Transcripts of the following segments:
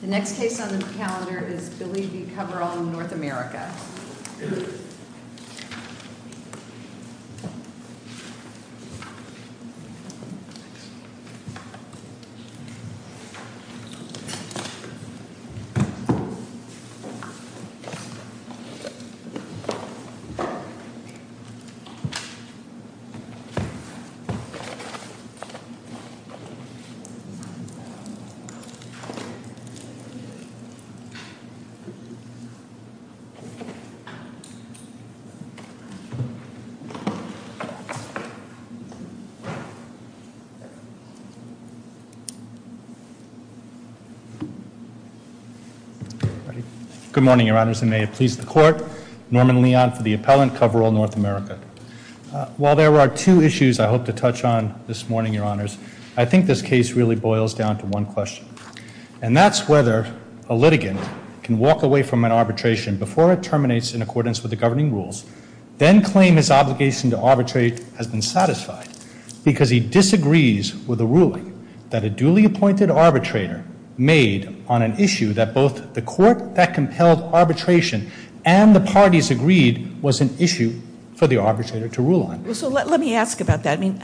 The next case on the calendar is Bille v. Coverall North America. Good morning, Your Honors, and may it please the Court. Norman Leon for the appellant, Coverall North America. While there are two issues I hope to touch on this morning, Your Honors, I think this case really boils down to one question. And that's whether a litigant can walk away from an arbitration before it terminates in accordance with the governing rules, then claim his obligation to arbitrate has been satisfied because he disagrees with a ruling that a duly appointed arbitrator made on an issue that both the court that compelled arbitration and the parties agreed was an issue for the arbitrator to rule on. So let me ask about that. I mean,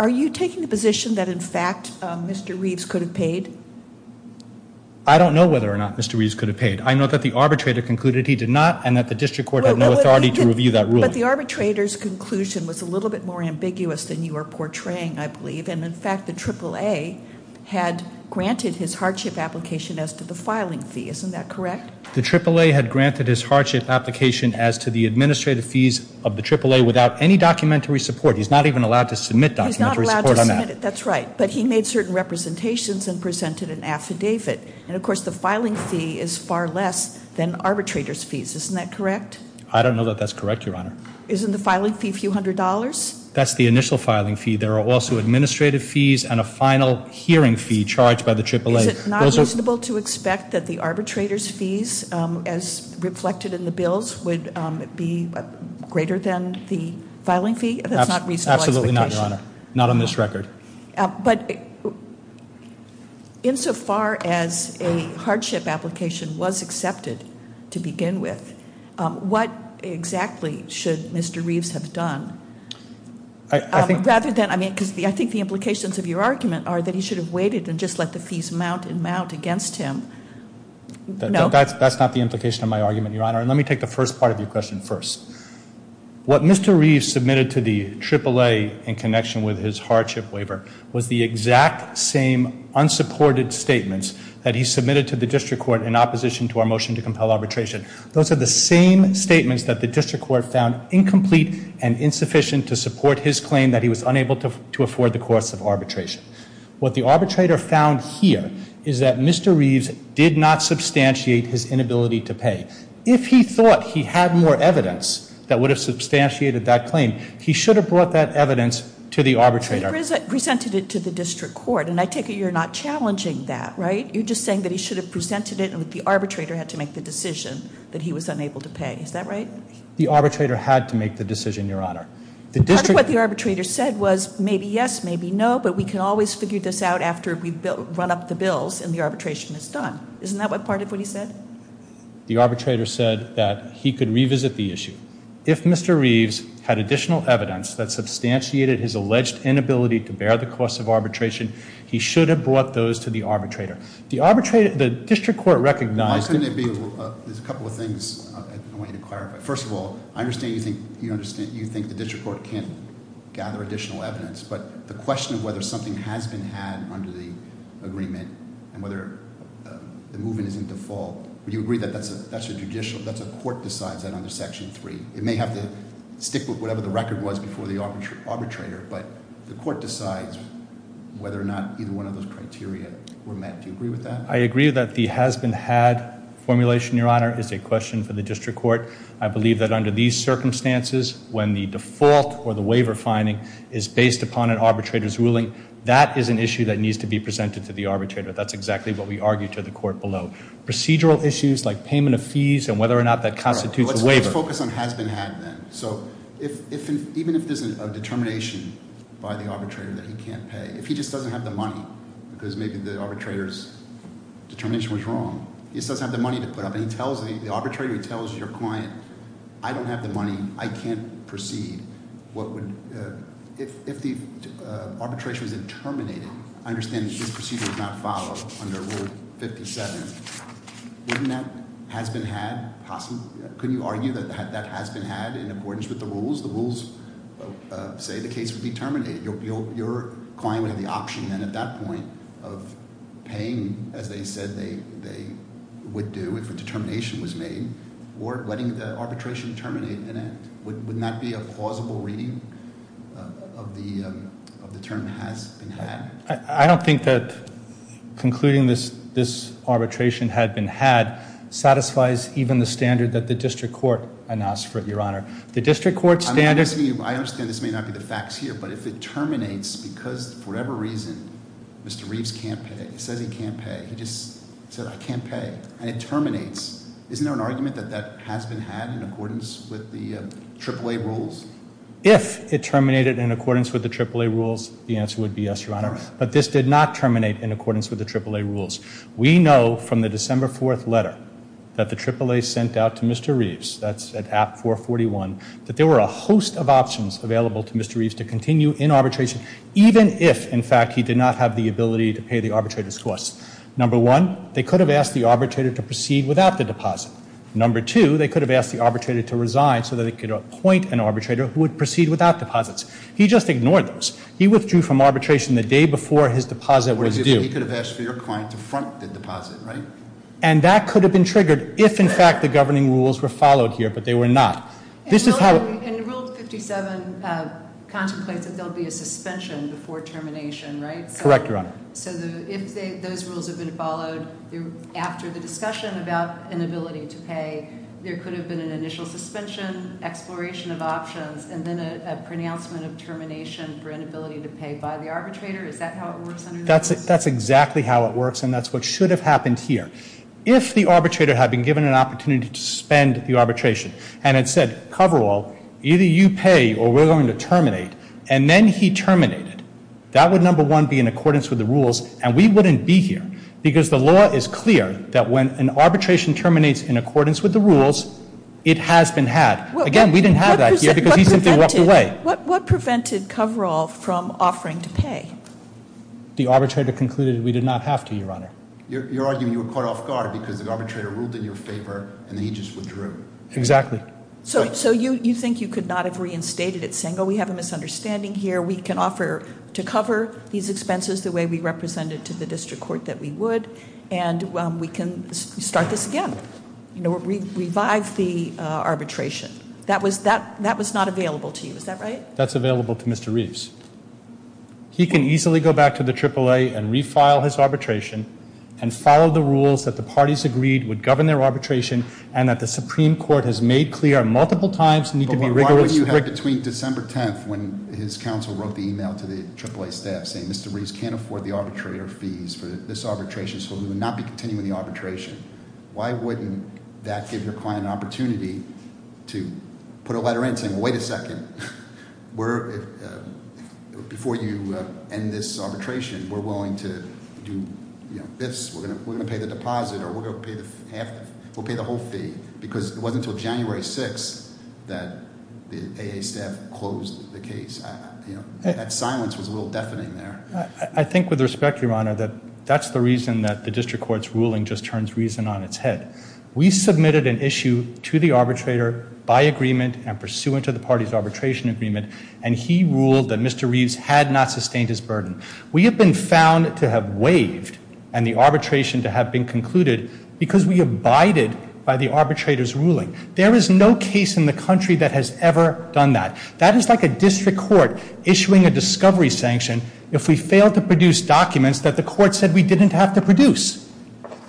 are you taking the position that, in fact, Mr. Reeves could have paid? I don't know whether or not Mr. Reeves could have paid. I know that the arbitrator concluded he did not and that the district court had no authority to review that ruling. But the arbitrator's conclusion was a little bit more ambiguous than you are portraying, I believe. And, in fact, the AAA had granted his hardship application as to the filing fee. Isn't that correct? The AAA had granted his hardship application as to the administrative fees of the AAA without any documentary support. He's not even allowed to submit documentary support on that. He's not allowed to submit it. That's right. But he made certain representations and presented an affidavit. And, of course, the filing fee is far less than arbitrator's fees. Isn't that correct? I don't know that that's correct, Your Honor. Isn't the filing fee a few hundred dollars? That's the initial filing fee. There are also administrative fees and a final hearing fee charged by the AAA. Is it not reasonable to expect that the arbitrator's fees, as reflected in the bills, would be greater than the filing fee? That's not a reasonable expectation. Absolutely not, Your Honor. Not on this record. But, insofar as a hardship application was accepted to begin with, what exactly should Mr. Reeves have done rather than, I mean, because I think the implications of your argument are that he should have waited and just let the fees mount and mount against him. No. That's not the implication of my argument, Your Honor. And let me take the first part of your question first. What Mr. Reeves submitted to the AAA in connection with his hardship waiver was the exact same unsupported statements that he submitted to the district court in opposition to our motion to compel arbitration. Those are the same statements that the district court found incomplete and insufficient to support his claim that he was unable to afford the costs of arbitration. What the arbitrator found here is that Mr. Reeves did not substantiate his inability to pay. If he thought he had more evidence that would have substantiated that claim, he should have brought that evidence to the arbitrator. He presented it to the district court, and I take it you're not challenging that, right? You're just saying that he should have presented it and that the arbitrator had to make the decision that he was unable to pay. Is that right? The arbitrator had to make the decision, Your Honor. The district— Part of what the arbitrator said was, maybe yes, maybe no, but we can always figure this out after we run up the bills and the arbitration is done. Isn't that part of what he said? The arbitrator said that he could revisit the issue. If Mr. Reeves had additional evidence that substantiated his alleged inability to bear the costs of arbitration, he should have brought those to the arbitrator. The district court recognized— There's a couple of things I want you to clarify. First of all, I understand you think the district court can't gather additional evidence, but the question of whether something has been had under the agreement and whether the movement is in default, would you agree that that's a judicial—that's a court decides that under Section 3? It may have to stick with whatever the record was before the arbitrator, but the court decides whether or not either one of those criteria were met. Do you agree with that? I agree that the has-been-had formulation, Your Honor, is a question for the district court. I believe that under these circumstances, when the default or the waiver finding is based upon an arbitrator's ruling, that is an issue that needs to be presented to the arbitrator. That's exactly what we argued to the court below. Procedural issues like payment of fees and whether or not that constitutes a waiver— Let's focus on has-been-had then. So even if there's a determination by the arbitrator that he can't pay, if he just doesn't have the money, because maybe the arbitrator's determination was wrong, he just doesn't have the money to put up—and he tells the arbitrator, he tells your client, I don't have the money, I can't proceed, what would—if the arbitration was interminated, I understand that this procedure was not followed under Rule 57. Wouldn't that has-been-had? Could you argue that that has-been-had in accordance with the rules? The rules say the case would be terminated. Your client would have the option then at that point of paying, as they said they would do if a determination was made, or letting the arbitration terminate in it. Wouldn't that be a plausible reading of the term has-been-had? I don't think that concluding this arbitration had-been-had satisfies even the standard that the district court announced for it, Your Honor. The district court standard— I understand this may not be the facts here, but if it terminates because for whatever reason Mr. Reeves can't pay, says he can't pay, he just said, I can't pay, and it terminates, isn't there an argument that that has-been-had in accordance with the AAA rules? If it terminated in accordance with the AAA rules, the answer would be yes, Your Honor. But this did not terminate in accordance with the AAA rules. We know from the December 4th letter that the AAA sent out to Mr. Reeves, that's at App 441, that there were a host of options available to Mr. Reeves to continue in arbitration even if, in fact, he did not have the ability to pay the arbitrator's costs. Number one, they could have asked the arbitrator to proceed without the deposit. Number two, they could have asked the arbitrator to resign so that they could appoint an arbitrator who would proceed without deposits. He just ignored those. He withdrew from arbitration the day before his deposit was due. What if he could have asked for your client to front the deposit, right? And that could have been triggered if, in fact, the governing rules were followed here, but they were not. This is how— And Rule 57 contemplates that there will be a suspension before termination, right? Correct, Your Honor. So if those rules had been followed after the discussion about inability to pay, there could have been an initial suspension, exploration of options, and then a pronouncement of termination for inability to pay by the arbitrator? Is that how it works under the rules? That's exactly how it works, and that's what should have happened here. If the arbitrator had been given an opportunity to suspend the arbitration and had said, cover all, either you pay or we're going to terminate, and then he terminated, that would, number one, be in accordance with the rules, and we wouldn't be here, because the law is clear that when an arbitration terminates in accordance with the rules, it has been had. Again, we didn't have that here because he simply walked away. What prevented cover all from offering to pay? The arbitrator concluded we did not have to, Your Honor. You're arguing you were caught off guard because the arbitrator ruled in your favor and then he just withdrew. Exactly. So you think you could not have reinstated it, saying, oh, we have a misunderstanding here, we can offer to cover these expenses the way we represented to the district court that we would, and we can start this again, revive the arbitration. That was not available to you. Is that right? That's available to Mr. Reeves. He can easily go back to the AAA and refile his arbitration and follow the rules that the parties agreed would govern their arbitration and that the Supreme Court has made clear multiple times need to be rigorous. What would you have between December 10th when his counsel wrote the email to the AAA staff saying, Mr. Reeves can't afford the arbitrator fees for this arbitration, so we will not be continuing the arbitration. Why wouldn't that give your client an opportunity to put a letter in saying, wait a second, before you end this arbitration, we're willing to do this, we're going to pay the deposit, or we'll pay the whole fee. Because it wasn't until January 6th that the AAA staff closed the case. That silence was a little deafening there. I think with respect, Your Honor, that that's the reason that the district court's ruling just turns reason on its head. We submitted an issue to the arbitrator by agreement and pursuant to the party's arbitration agreement, and he ruled that Mr. Reeves had not sustained his burden. We have been found to have waived and the arbitration to have been concluded because we abided by the arbitrator's ruling. There is no case in the country that has ever done that. That is like a district court issuing a discovery sanction if we fail to produce documents that the court said we didn't have to produce.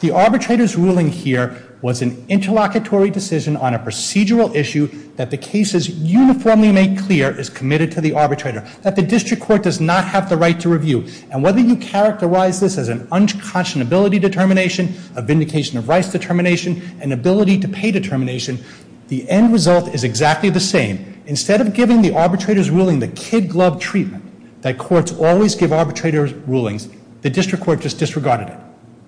The arbitrator's ruling here was an interlocutory decision on a procedural issue that the case is uniformly made clear is committed to the arbitrator, that the district court does not have the right to review. And whether you characterize this as an unconscionability determination, a vindication of rights determination, an ability to pay determination, the end result is exactly the same. Instead of giving the arbitrator's ruling the kid-glove treatment that courts always give arbitrator's rulings, the district court just disregarded it,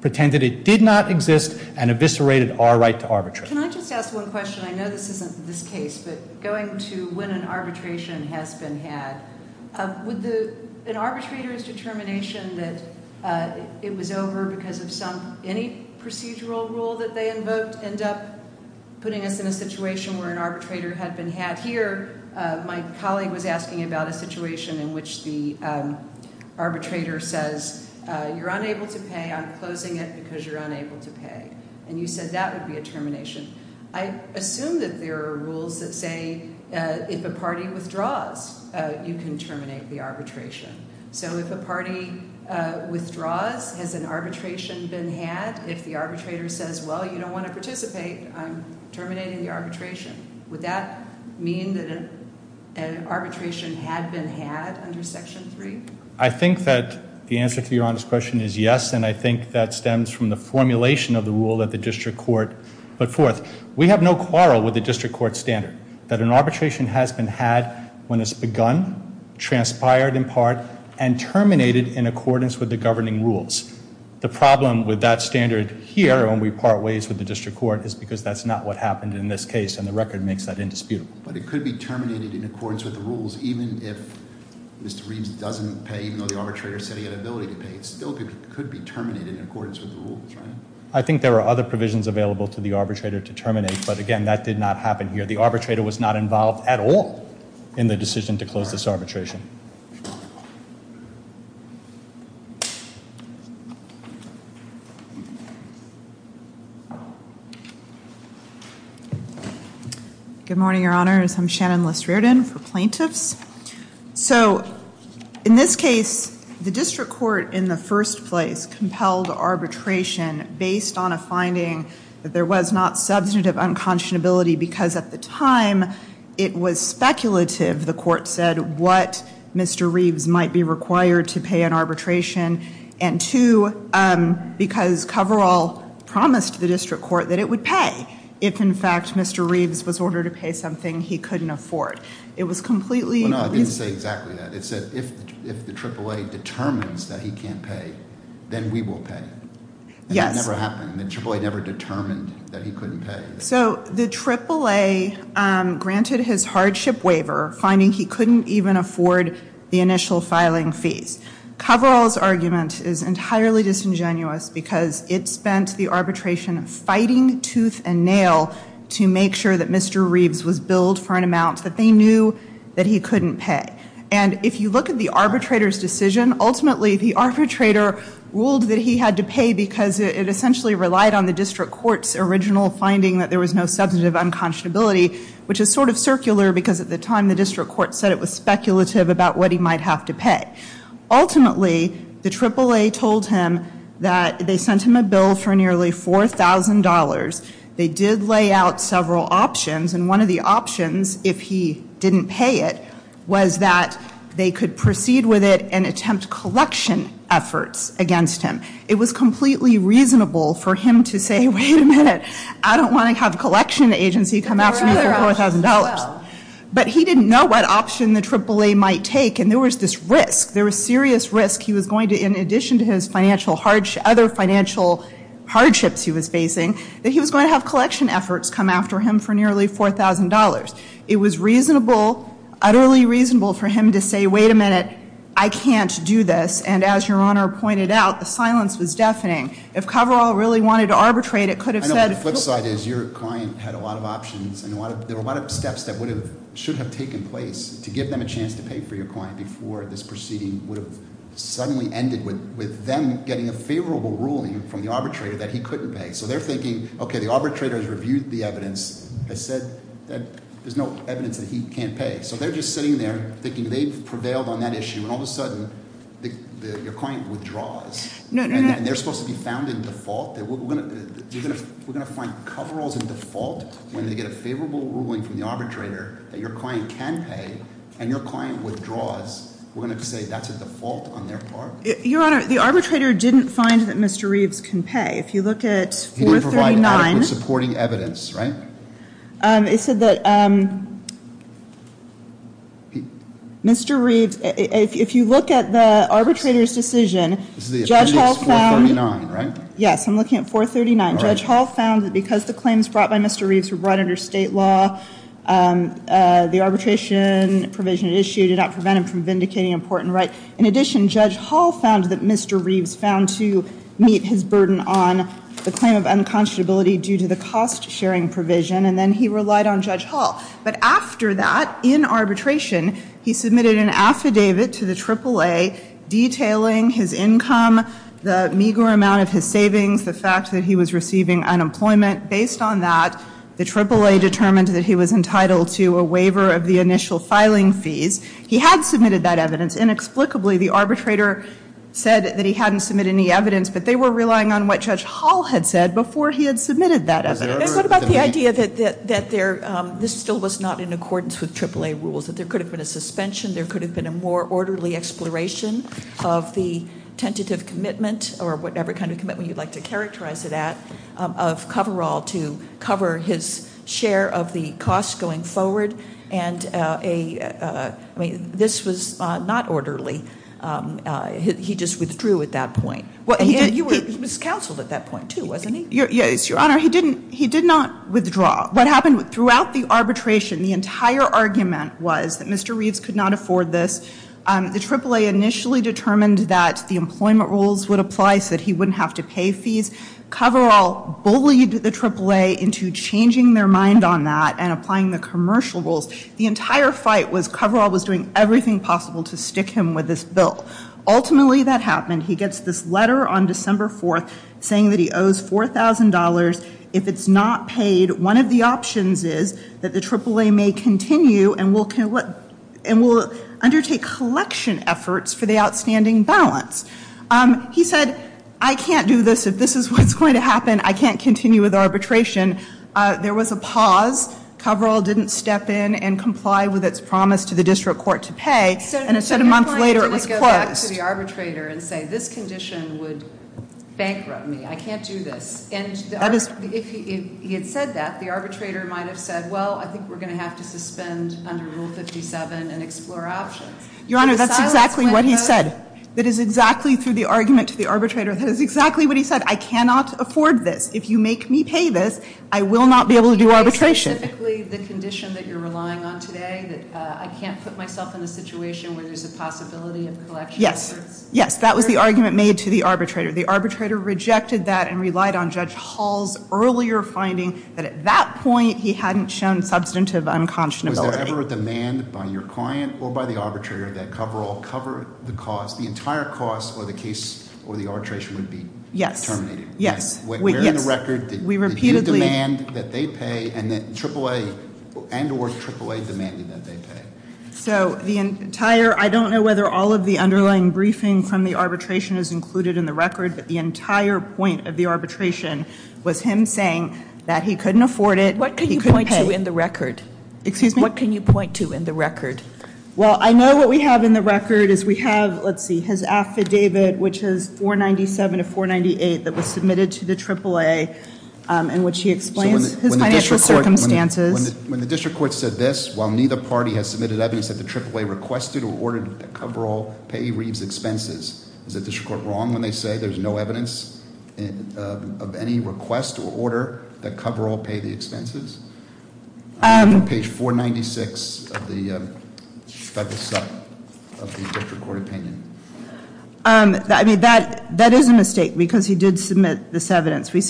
pretended it did not exist, and eviscerated our right to arbitrate. Can I just ask one question? I know this isn't this case, but going to when an arbitration has been had, would an arbitrator's determination that it was over because of any procedural rule that they invoked end up putting us in a situation where an arbitrator had been had? Here, my colleague was asking about a situation in which the arbitrator says, you're unable to pay, I'm closing it because you're unable to pay. And you said that would be a termination. I assume that there are rules that say, if a party withdraws, you can terminate the arbitration. So if a party withdraws, has an arbitration been had? If the arbitrator says, well, you don't want to participate, I'm terminating the arbitration. Would that mean that an arbitration had been had under Section 3? I think that the answer to your honest question is yes, and I think that stems from the formulation of the rule that the district court put forth. We have no quarrel with the district court standard that an arbitration has been had when it's begun, transpired in part, and terminated in accordance with the governing rules. The problem with that standard here, when we part ways with the district court, is because that's not what happened in this case, and the record makes that indisputable. But it could be terminated in accordance with the rules, even if Mr. Reeves doesn't pay, even though the arbitrator said he had ability to pay. It still could be terminated in accordance with the rules, right? I think there are other provisions available to the arbitrator to terminate, but again, that did not happen here. The arbitrator was not involved at all in the decision to close this arbitration. Good morning, Your Honors. I'm Shannon List-Riordan for plaintiffs. So, in this case, the district court in the first place compelled arbitration based on a finding that there was not substantive unconscionability because, at the time, it was speculative, the court said, what Mr. Reeves might be required to pay in arbitration, and two, because Coverall promised the district court that it would pay if, in fact, Mr. Reeves was ordered to pay something he couldn't afford. It was completely... Well, no, I didn't say exactly that. It said, if the AAA determines that he can't pay, then we will pay. Yes. So, the AAA granted his hardship waiver finding he couldn't even afford the initial filing fees. Coverall's argument is entirely disingenuous because it spent the arbitration fighting tooth and nail to make sure that Mr. Reeves was billed for an amount that they knew that he couldn't pay. And, if you look at the arbitrator's decision, ultimately, the arbitrator ruled that he had to pay because it essentially relied on the district court's original finding that there was no substantive unconscionability, which is sort of circular because, at the time, the district court said it was speculative about what he might have to pay. Ultimately, the AAA told him that they sent him a bill for nearly $4,000. They did lay out several options, and one of the options, if he didn't pay it, was that they could proceed with it and it was completely reasonable for him to say, wait a minute, I don't want to have a collection agency come after me for $4,000. But he didn't know what option the AAA might take, and there was this risk, there was serious risk he was going to, in addition to his other financial hardships he was facing, that he was going to have collection efforts come after him for nearly $4,000. It was utterly reasonable for him to say, wait a minute, I can't do this, and as your Honor pointed out, the silence was deafening. If Coverall really wanted to arbitrate, it could have said I know, but the flip side is, your client had a lot of options, and there were a lot of steps that should have taken place to give them a chance to pay for your client before this proceeding would have suddenly ended with them getting a favorable ruling from the arbitrator that he couldn't pay. So they're thinking, okay, the arbitrator has reviewed the evidence, has said that there's no evidence that he can't pay. So they're just sitting there thinking they've prevailed on that issue, and all of a sudden your client withdraws. And they're supposed to be found in default? We're going to find Coveralls in default when they get a favorable ruling from the arbitrator that your client can pay, and your client withdraws. We're going to have to say that's a default on their part? Your Honor, the arbitrator didn't find that Mr. Reeves can pay. If you look at 439... He didn't provide adequate supporting evidence, right? It said that Mr. Reeves... If you look at the arbitrator's decision, Judge Hall found... Yes, I'm looking at 439. Judge Hall found that because the claims brought by Mr. Reeves were brought under state law, the arbitration provision issued did not prevent him from vindicating important rights. In addition, Judge Hall found that Mr. Reeves found to meet his burden on the claim of unconscionability due to the cost-sharing provision, and then he relied on Judge Hall. But after that, in arbitration, he submitted an affidavit to the AAA detailing his income, the meager amount of his savings, the fact that he was receiving unemployment. Based on that, the AAA determined that he was entitled to a waiver of the initial filing fees. He had submitted that evidence. Inexplicably, the arbitrator said that he hadn't submitted any evidence, but they were relying on what Judge Hall had said before he had submitted that evidence. What about the idea that this still was not in accordance with AAA rules, that there could have been a suspension, there could have been a more orderly exploration of the tentative commitment, or whatever kind of commitment you'd like to characterize it at, of coverall to cover his share of the cost going forward, and this was not orderly. He just withdrew at that point. He was counseled at that point, too, wasn't he? Yes, Your Honor. He did not withdraw. What happened throughout the arbitration, the entire argument was that Mr. Reeves could not afford this. The AAA initially determined that the employment rules would apply so that he wouldn't have to pay fees. Coverall bullied the AAA into changing their mind on that and applying the commercial rules. The entire fight was Coverall was doing everything possible to stick him with this bill. Ultimately, that happened. He gets this letter on $4,000. If it's not paid, one of the options is that the AAA may continue and will undertake collection efforts for the outstanding balance. He said, I can't do this. If this is what's going to happen, I can't continue with arbitration. There was a pause. Coverall didn't step in and comply with its promise to the district court to pay, and a month later, it was closed. So you're going to go back to the arbitrator and say, this condition would bankrupt me. I can't do this. If he had said that, the arbitrator might have said, well, I think we're going to have to suspend under Rule 57 and explore options. Your Honor, that's exactly what he said. That is exactly through the argument to the arbitrator. That is exactly what he said. I cannot afford this. If you make me pay this, I will not be able to do arbitration. Specifically, the condition that you're relying on today, that I can't put myself in a situation where there's a possibility of collection efforts? Yes. Yes. That was the I rejected that and relied on Judge Hall's earlier finding that at that point, he hadn't shown substantive unconscionability. Was there ever a demand by your client or by the arbitrator that Coverall cover the cost, the entire cost, or the case, or the arbitration would be terminated? Yes. Where in the record did you demand that they pay and that AAA and or AAA demanded that they pay? I don't know whether all of the underlying briefing from the arbitration is included in the record, but the entire point of the arbitration was him saying that he couldn't afford it, he couldn't pay. What can you point to in the record? Excuse me? What can you point to in the record? Well, I know what we have in the record is we have, let's see, his affidavit, which is 497 of 498 that was submitted to the AAA, in which he explains his financial circumstances. When the district court said this, while neither party has submitted evidence that the AAA requested or ordered that Coverall pay Reeves' expenses, is the district court wrong when they say there's no evidence of any request or order that Coverall pay the expenses? Page 496 of the federal sub of the district court opinion. I mean, that is a mistake, because he did submit this evidence. He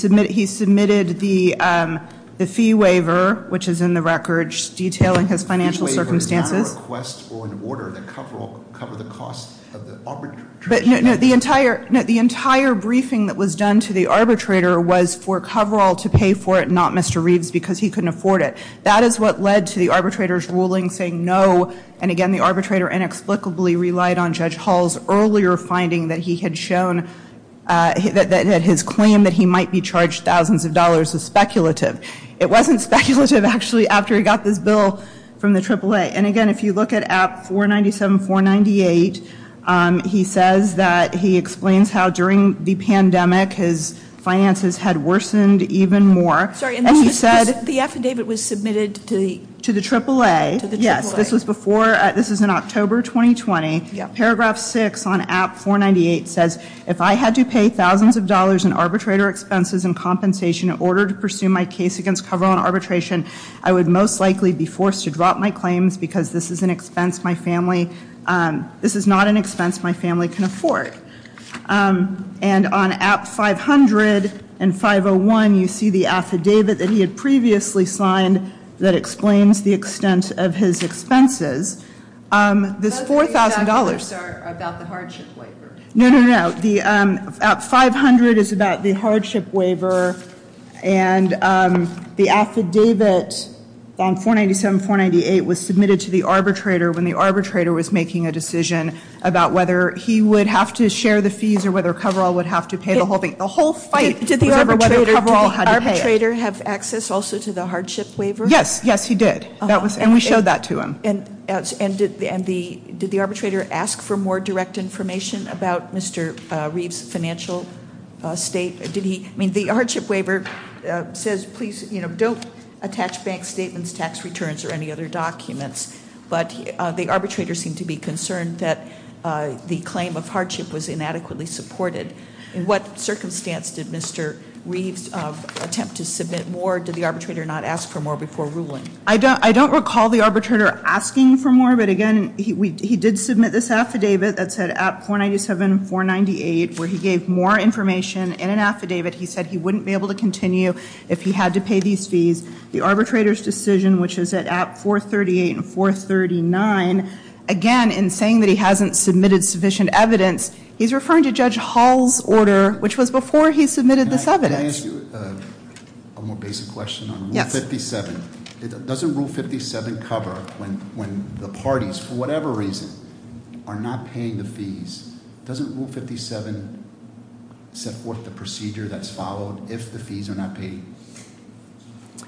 submitted the fee waiver, which is in the record, detailing his financial circumstances. The fee waiver is not a request or an order that Coverall cover the cost of the arbitration. The entire briefing that was done to the arbitrator was for Coverall to pay for it, not Mr. Reeves, because he couldn't afford it. That is what led to the arbitrator's ruling saying no, and again, the arbitrator inexplicably relied on Judge Hall's earlier finding that he had shown that his claim that he might be charged thousands of dollars is speculative. It wasn't speculative actually after he got this bill from the AAA. And again, if you look at app 497, 498, he says that he explains how during the pandemic his finances had worsened even more. And he said the affidavit was submitted to the AAA. Yes. This is in October 2020. Paragraph 6 on app 498 says, if I had to pay thousands of dollars in arbitrator expenses and compensation in order to pursue my case against Coverall and arbitration, I would most likely be forced to drop my claims because this is an expense my family, this is not an expense my family can afford. And on app 500 and 501 you see the affidavit that he had previously signed that explains the extent of his expenses. This $4,000 Those three chapters are about the hardship waiver. No, no, no. App 500 is about the hardship waiver and the affidavit on 497, 498 was submitted to the arbitrator when the arbitrator was making a decision about whether he would have to share the fees or whether Coverall would have to pay the whole thing. The whole fight was over whether Coverall had to pay it. Did the arbitrator have access also to the hardship waiver? Yes, yes he did. And we showed that to him. And did the arbitrator ask for more direct information about Mr. Reeves' financial state? Did he? The hardship waiver says please don't attach bank statements, tax returns or any other documents but the arbitrator seemed to be concerned that the claim of hardship was inadequately supported. In what circumstance did Mr. Reeves attempt to submit more? Did the arbitrator not ask for more before ruling? I don't recall the arbitrator asking for more but again he did submit this affidavit that said app 497, 498 where he gave more information in an affidavit. He said he wouldn't be able to continue if he had to pay these fees. The arbitrator's decision which is at app 438 and 439 again in saying that he hasn't submitted sufficient evidence, he's referring to Judge Hall's order which was before he submitted this evidence. Can I ask you a more basic question on rule 57? Doesn't rule 57 cover when the parties for whatever reason are not paying the fees? Doesn't rule 57 set forth the procedure that's followed if the fees are not paid?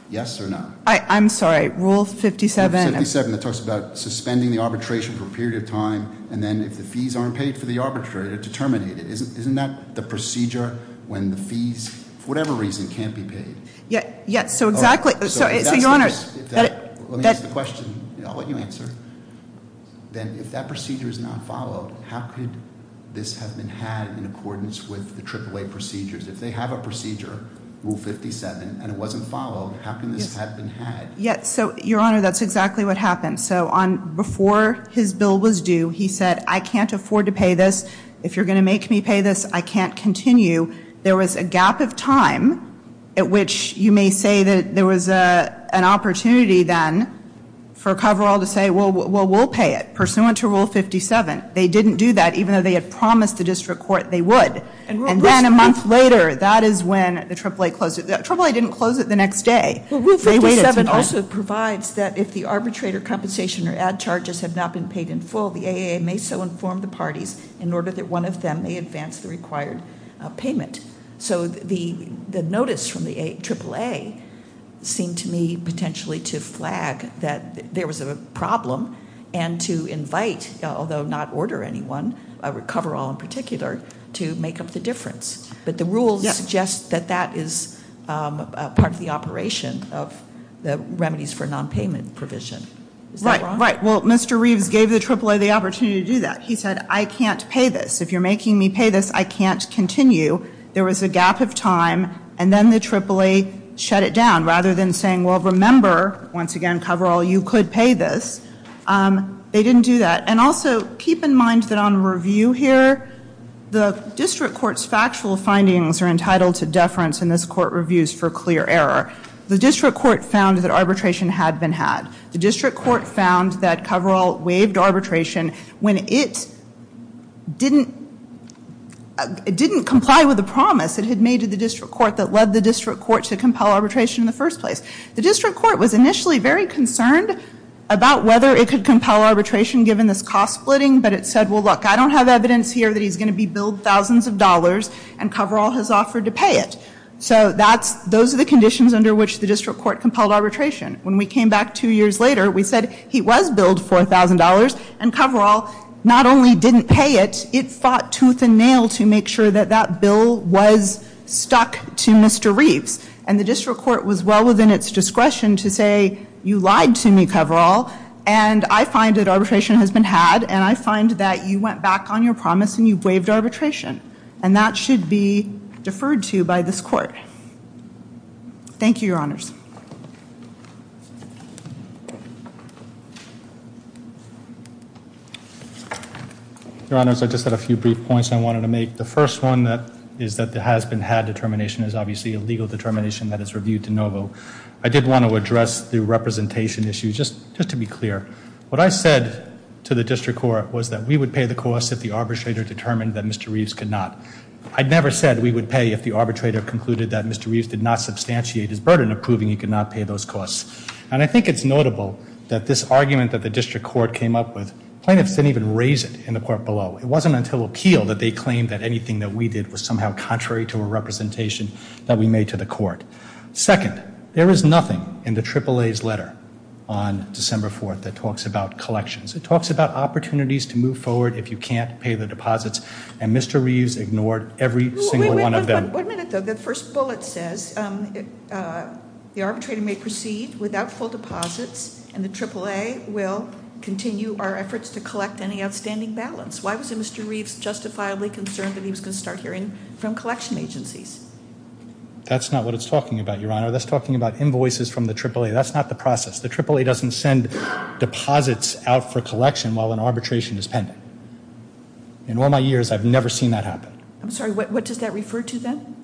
Yes or no? I'm sorry, rule 57? Rule 57 that talks about suspending the arbitration for a period of time and then if the fees aren't paid for the arbitrator to terminate it. Isn't that the procedure when the fees for whatever reason can't be paid? Yes, so exactly. Let me ask the question. I'll let you answer. Then if that this has been had in accordance with the AAA procedures, if they have a procedure, rule 57 and it wasn't followed, how can this have been had? Yes, so your honor, that's exactly what happened. So on, before his bill was due, he said, I can't afford to pay this. If you're gonna make me pay this, I can't continue. There was a gap of time at which you may say that there was an opportunity then for Coverall to say well we'll pay it, pursuant to rule 57. They didn't do that even though they had promised the district court they would. And then a month later, that is when the AAA closed it. The AAA didn't close it the next day. Rule 57 also provides that if the arbitrator compensation or ad charges have not been paid in full, the AAA may so inform the parties in order that one of them may advance the required payment. So the notice from the AAA seemed to me potentially to flag that there was a problem and to invite, although not order anyone, Coverall in particular, to make up the difference. But the rules suggest that that is part of the operation of the remedies for non-payment provision. Right, right. Well, Mr. Reeves gave the AAA the opportunity to do that. He said, I can't pay this. If you're making me pay this, I can't continue. There was a gap of time, and then the AAA shut it down. Rather than saying, well remember, once again, Coverall, you could pay this. They didn't do that. And also, keep in mind that on review here, the district court's factual findings are entitled to deference in this court reviews for clear error. The district court found that arbitration had been had. The district court found that Coverall waived arbitration when it didn't comply with the promise it had made to the district court that led the district court to compel arbitration in the first place. The district court was initially very concerned about whether it could compel arbitration given this cost splitting, but it said, well look, I don't have evidence here that he's going to be billed thousands of dollars and Coverall has offered to pay it. So that's, those are the conditions under which the district court compelled arbitration. When we came back two years later, we said he was billed $4,000 and Coverall not only didn't pay it, it fought tooth and nail to make sure that that bill was stuck to Mr. Reeves. And the district court was well within its discretion to say, you lied to me, Coverall, and I find that arbitration has been had, and I find that you went back on your promise and you waived arbitration. And that should be deferred to by this court. Thank you, Your Honors. Your Honors, I just had a few brief points I wanted to make. The first one is that the appeal determination that is reviewed to Novo, I did want to address the representation issue, just to be clear. What I said to the district court was that we would pay the cost if the arbitrator determined that Mr. Reeves could not. I never said we would pay if the arbitrator concluded that Mr. Reeves did not substantiate his burden of proving he could not pay those costs. And I think it's notable that this argument that the district court came up with, plaintiffs didn't even raise it in the court below. It wasn't until appeal that they claimed that anything that we did was somehow contrary to a representation that we made to the court. Second, there is nothing in the AAA's letter on December 4th that talks about collections. It talks about opportunities to move forward if you can't pay the deposits and Mr. Reeves ignored every single one of them. Wait a minute, the first bullet says the arbitrator may proceed without full deposits and the AAA will continue our efforts to collect any outstanding balance. Why was Mr. Reeves justifiably concerned that he was going to start hearing from collection agencies? That's not what it's talking about, Your Honor. That's talking about invoices from the AAA. That's not the process. The AAA doesn't send deposits out for collection while an arbitration is pending. In all my years, I've never seen that happen. I'm sorry, what does that refer to then?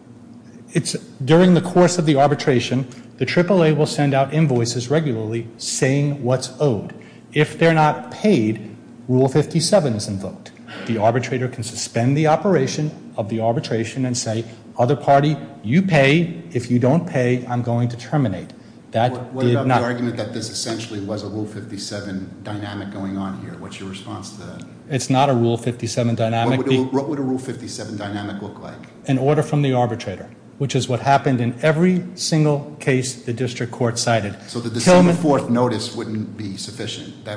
It's during the course of the arbitration, the AAA will send out invoices regularly saying what's owed. If they're not paid, Rule 57 is invoked. The arbitrator can suspend the operation of the arbitration and say other party, you pay. If you don't pay, I'm going to terminate. What about the argument that this essentially was a Rule 57 dynamic going on here? What's your response to that? It's not a Rule 57 dynamic. What would a Rule 57 dynamic look like? An order from the arbitrator, which is what happened in every single So the December 4th notice wouldn't be sufficient?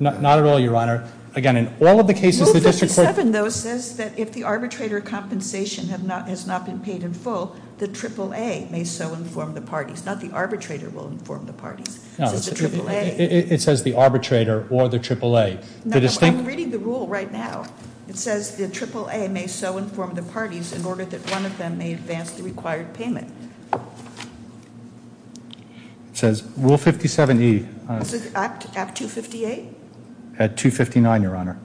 Not at all, Your Honor. Again, in all of the cases Rule 57, though, says that if the arbitrator compensation has not been paid in full, the AAA may so inform the parties. Not the arbitrator will inform the parties. It says the arbitrator or the AAA. I'm reading the rule right now. It says the AAA may so inform the parties in order that one of them may advance the required payment. It says Rule 57 Act 258? At 259, Your Honor.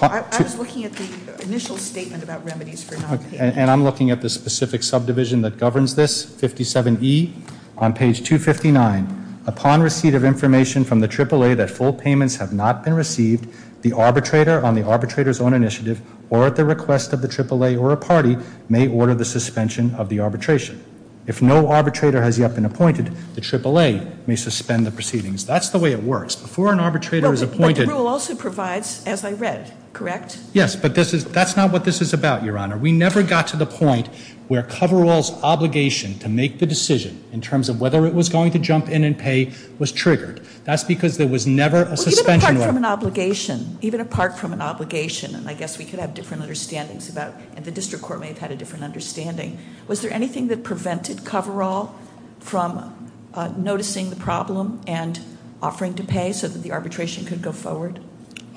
I was looking at the initial statement about remedies for not paying. And I'm looking at the specific subdivision that governs this, 57E on page 259. Upon receipt of information from the AAA that full payments have not been received the arbitrator, on the arbitrator's own initiative, or at the request of the AAA or a party, may order the suspension of the arbitration. If no arbitrator has yet been appointed, the AAA may suspend the proceedings. That's the way it works. Before an arbitrator is appointed... But the rule also provides, as I read, correct? Yes, but that's not what this is about, Your Honor. We never got to the point where coverall's obligation to make the decision in terms of whether it was going to jump in and pay was triggered. That's because there was never a suspension... Even apart from an obligation, even apart from an obligation, and I guess we could have different understandings about and the District Court may have had a different understanding, was there anything that prevented coverall from noticing the problem and offering to pay so that the arbitration could go forward?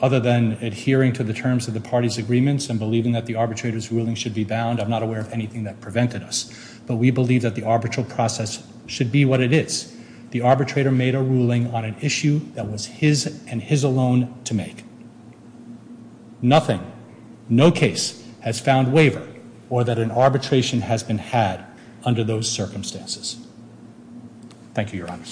Other than adhering to the terms of the party's agreements and believing that the arbitrator's ruling should be bound, I'm not aware of anything that prevented us. But we believe that the arbitral process should be what it is. The arbitrator made a ruling on an issue that was his and his alone to make. Nothing, no case, has found waiver or that an arbitration has been had under those circumstances. Thank you, Your Honor.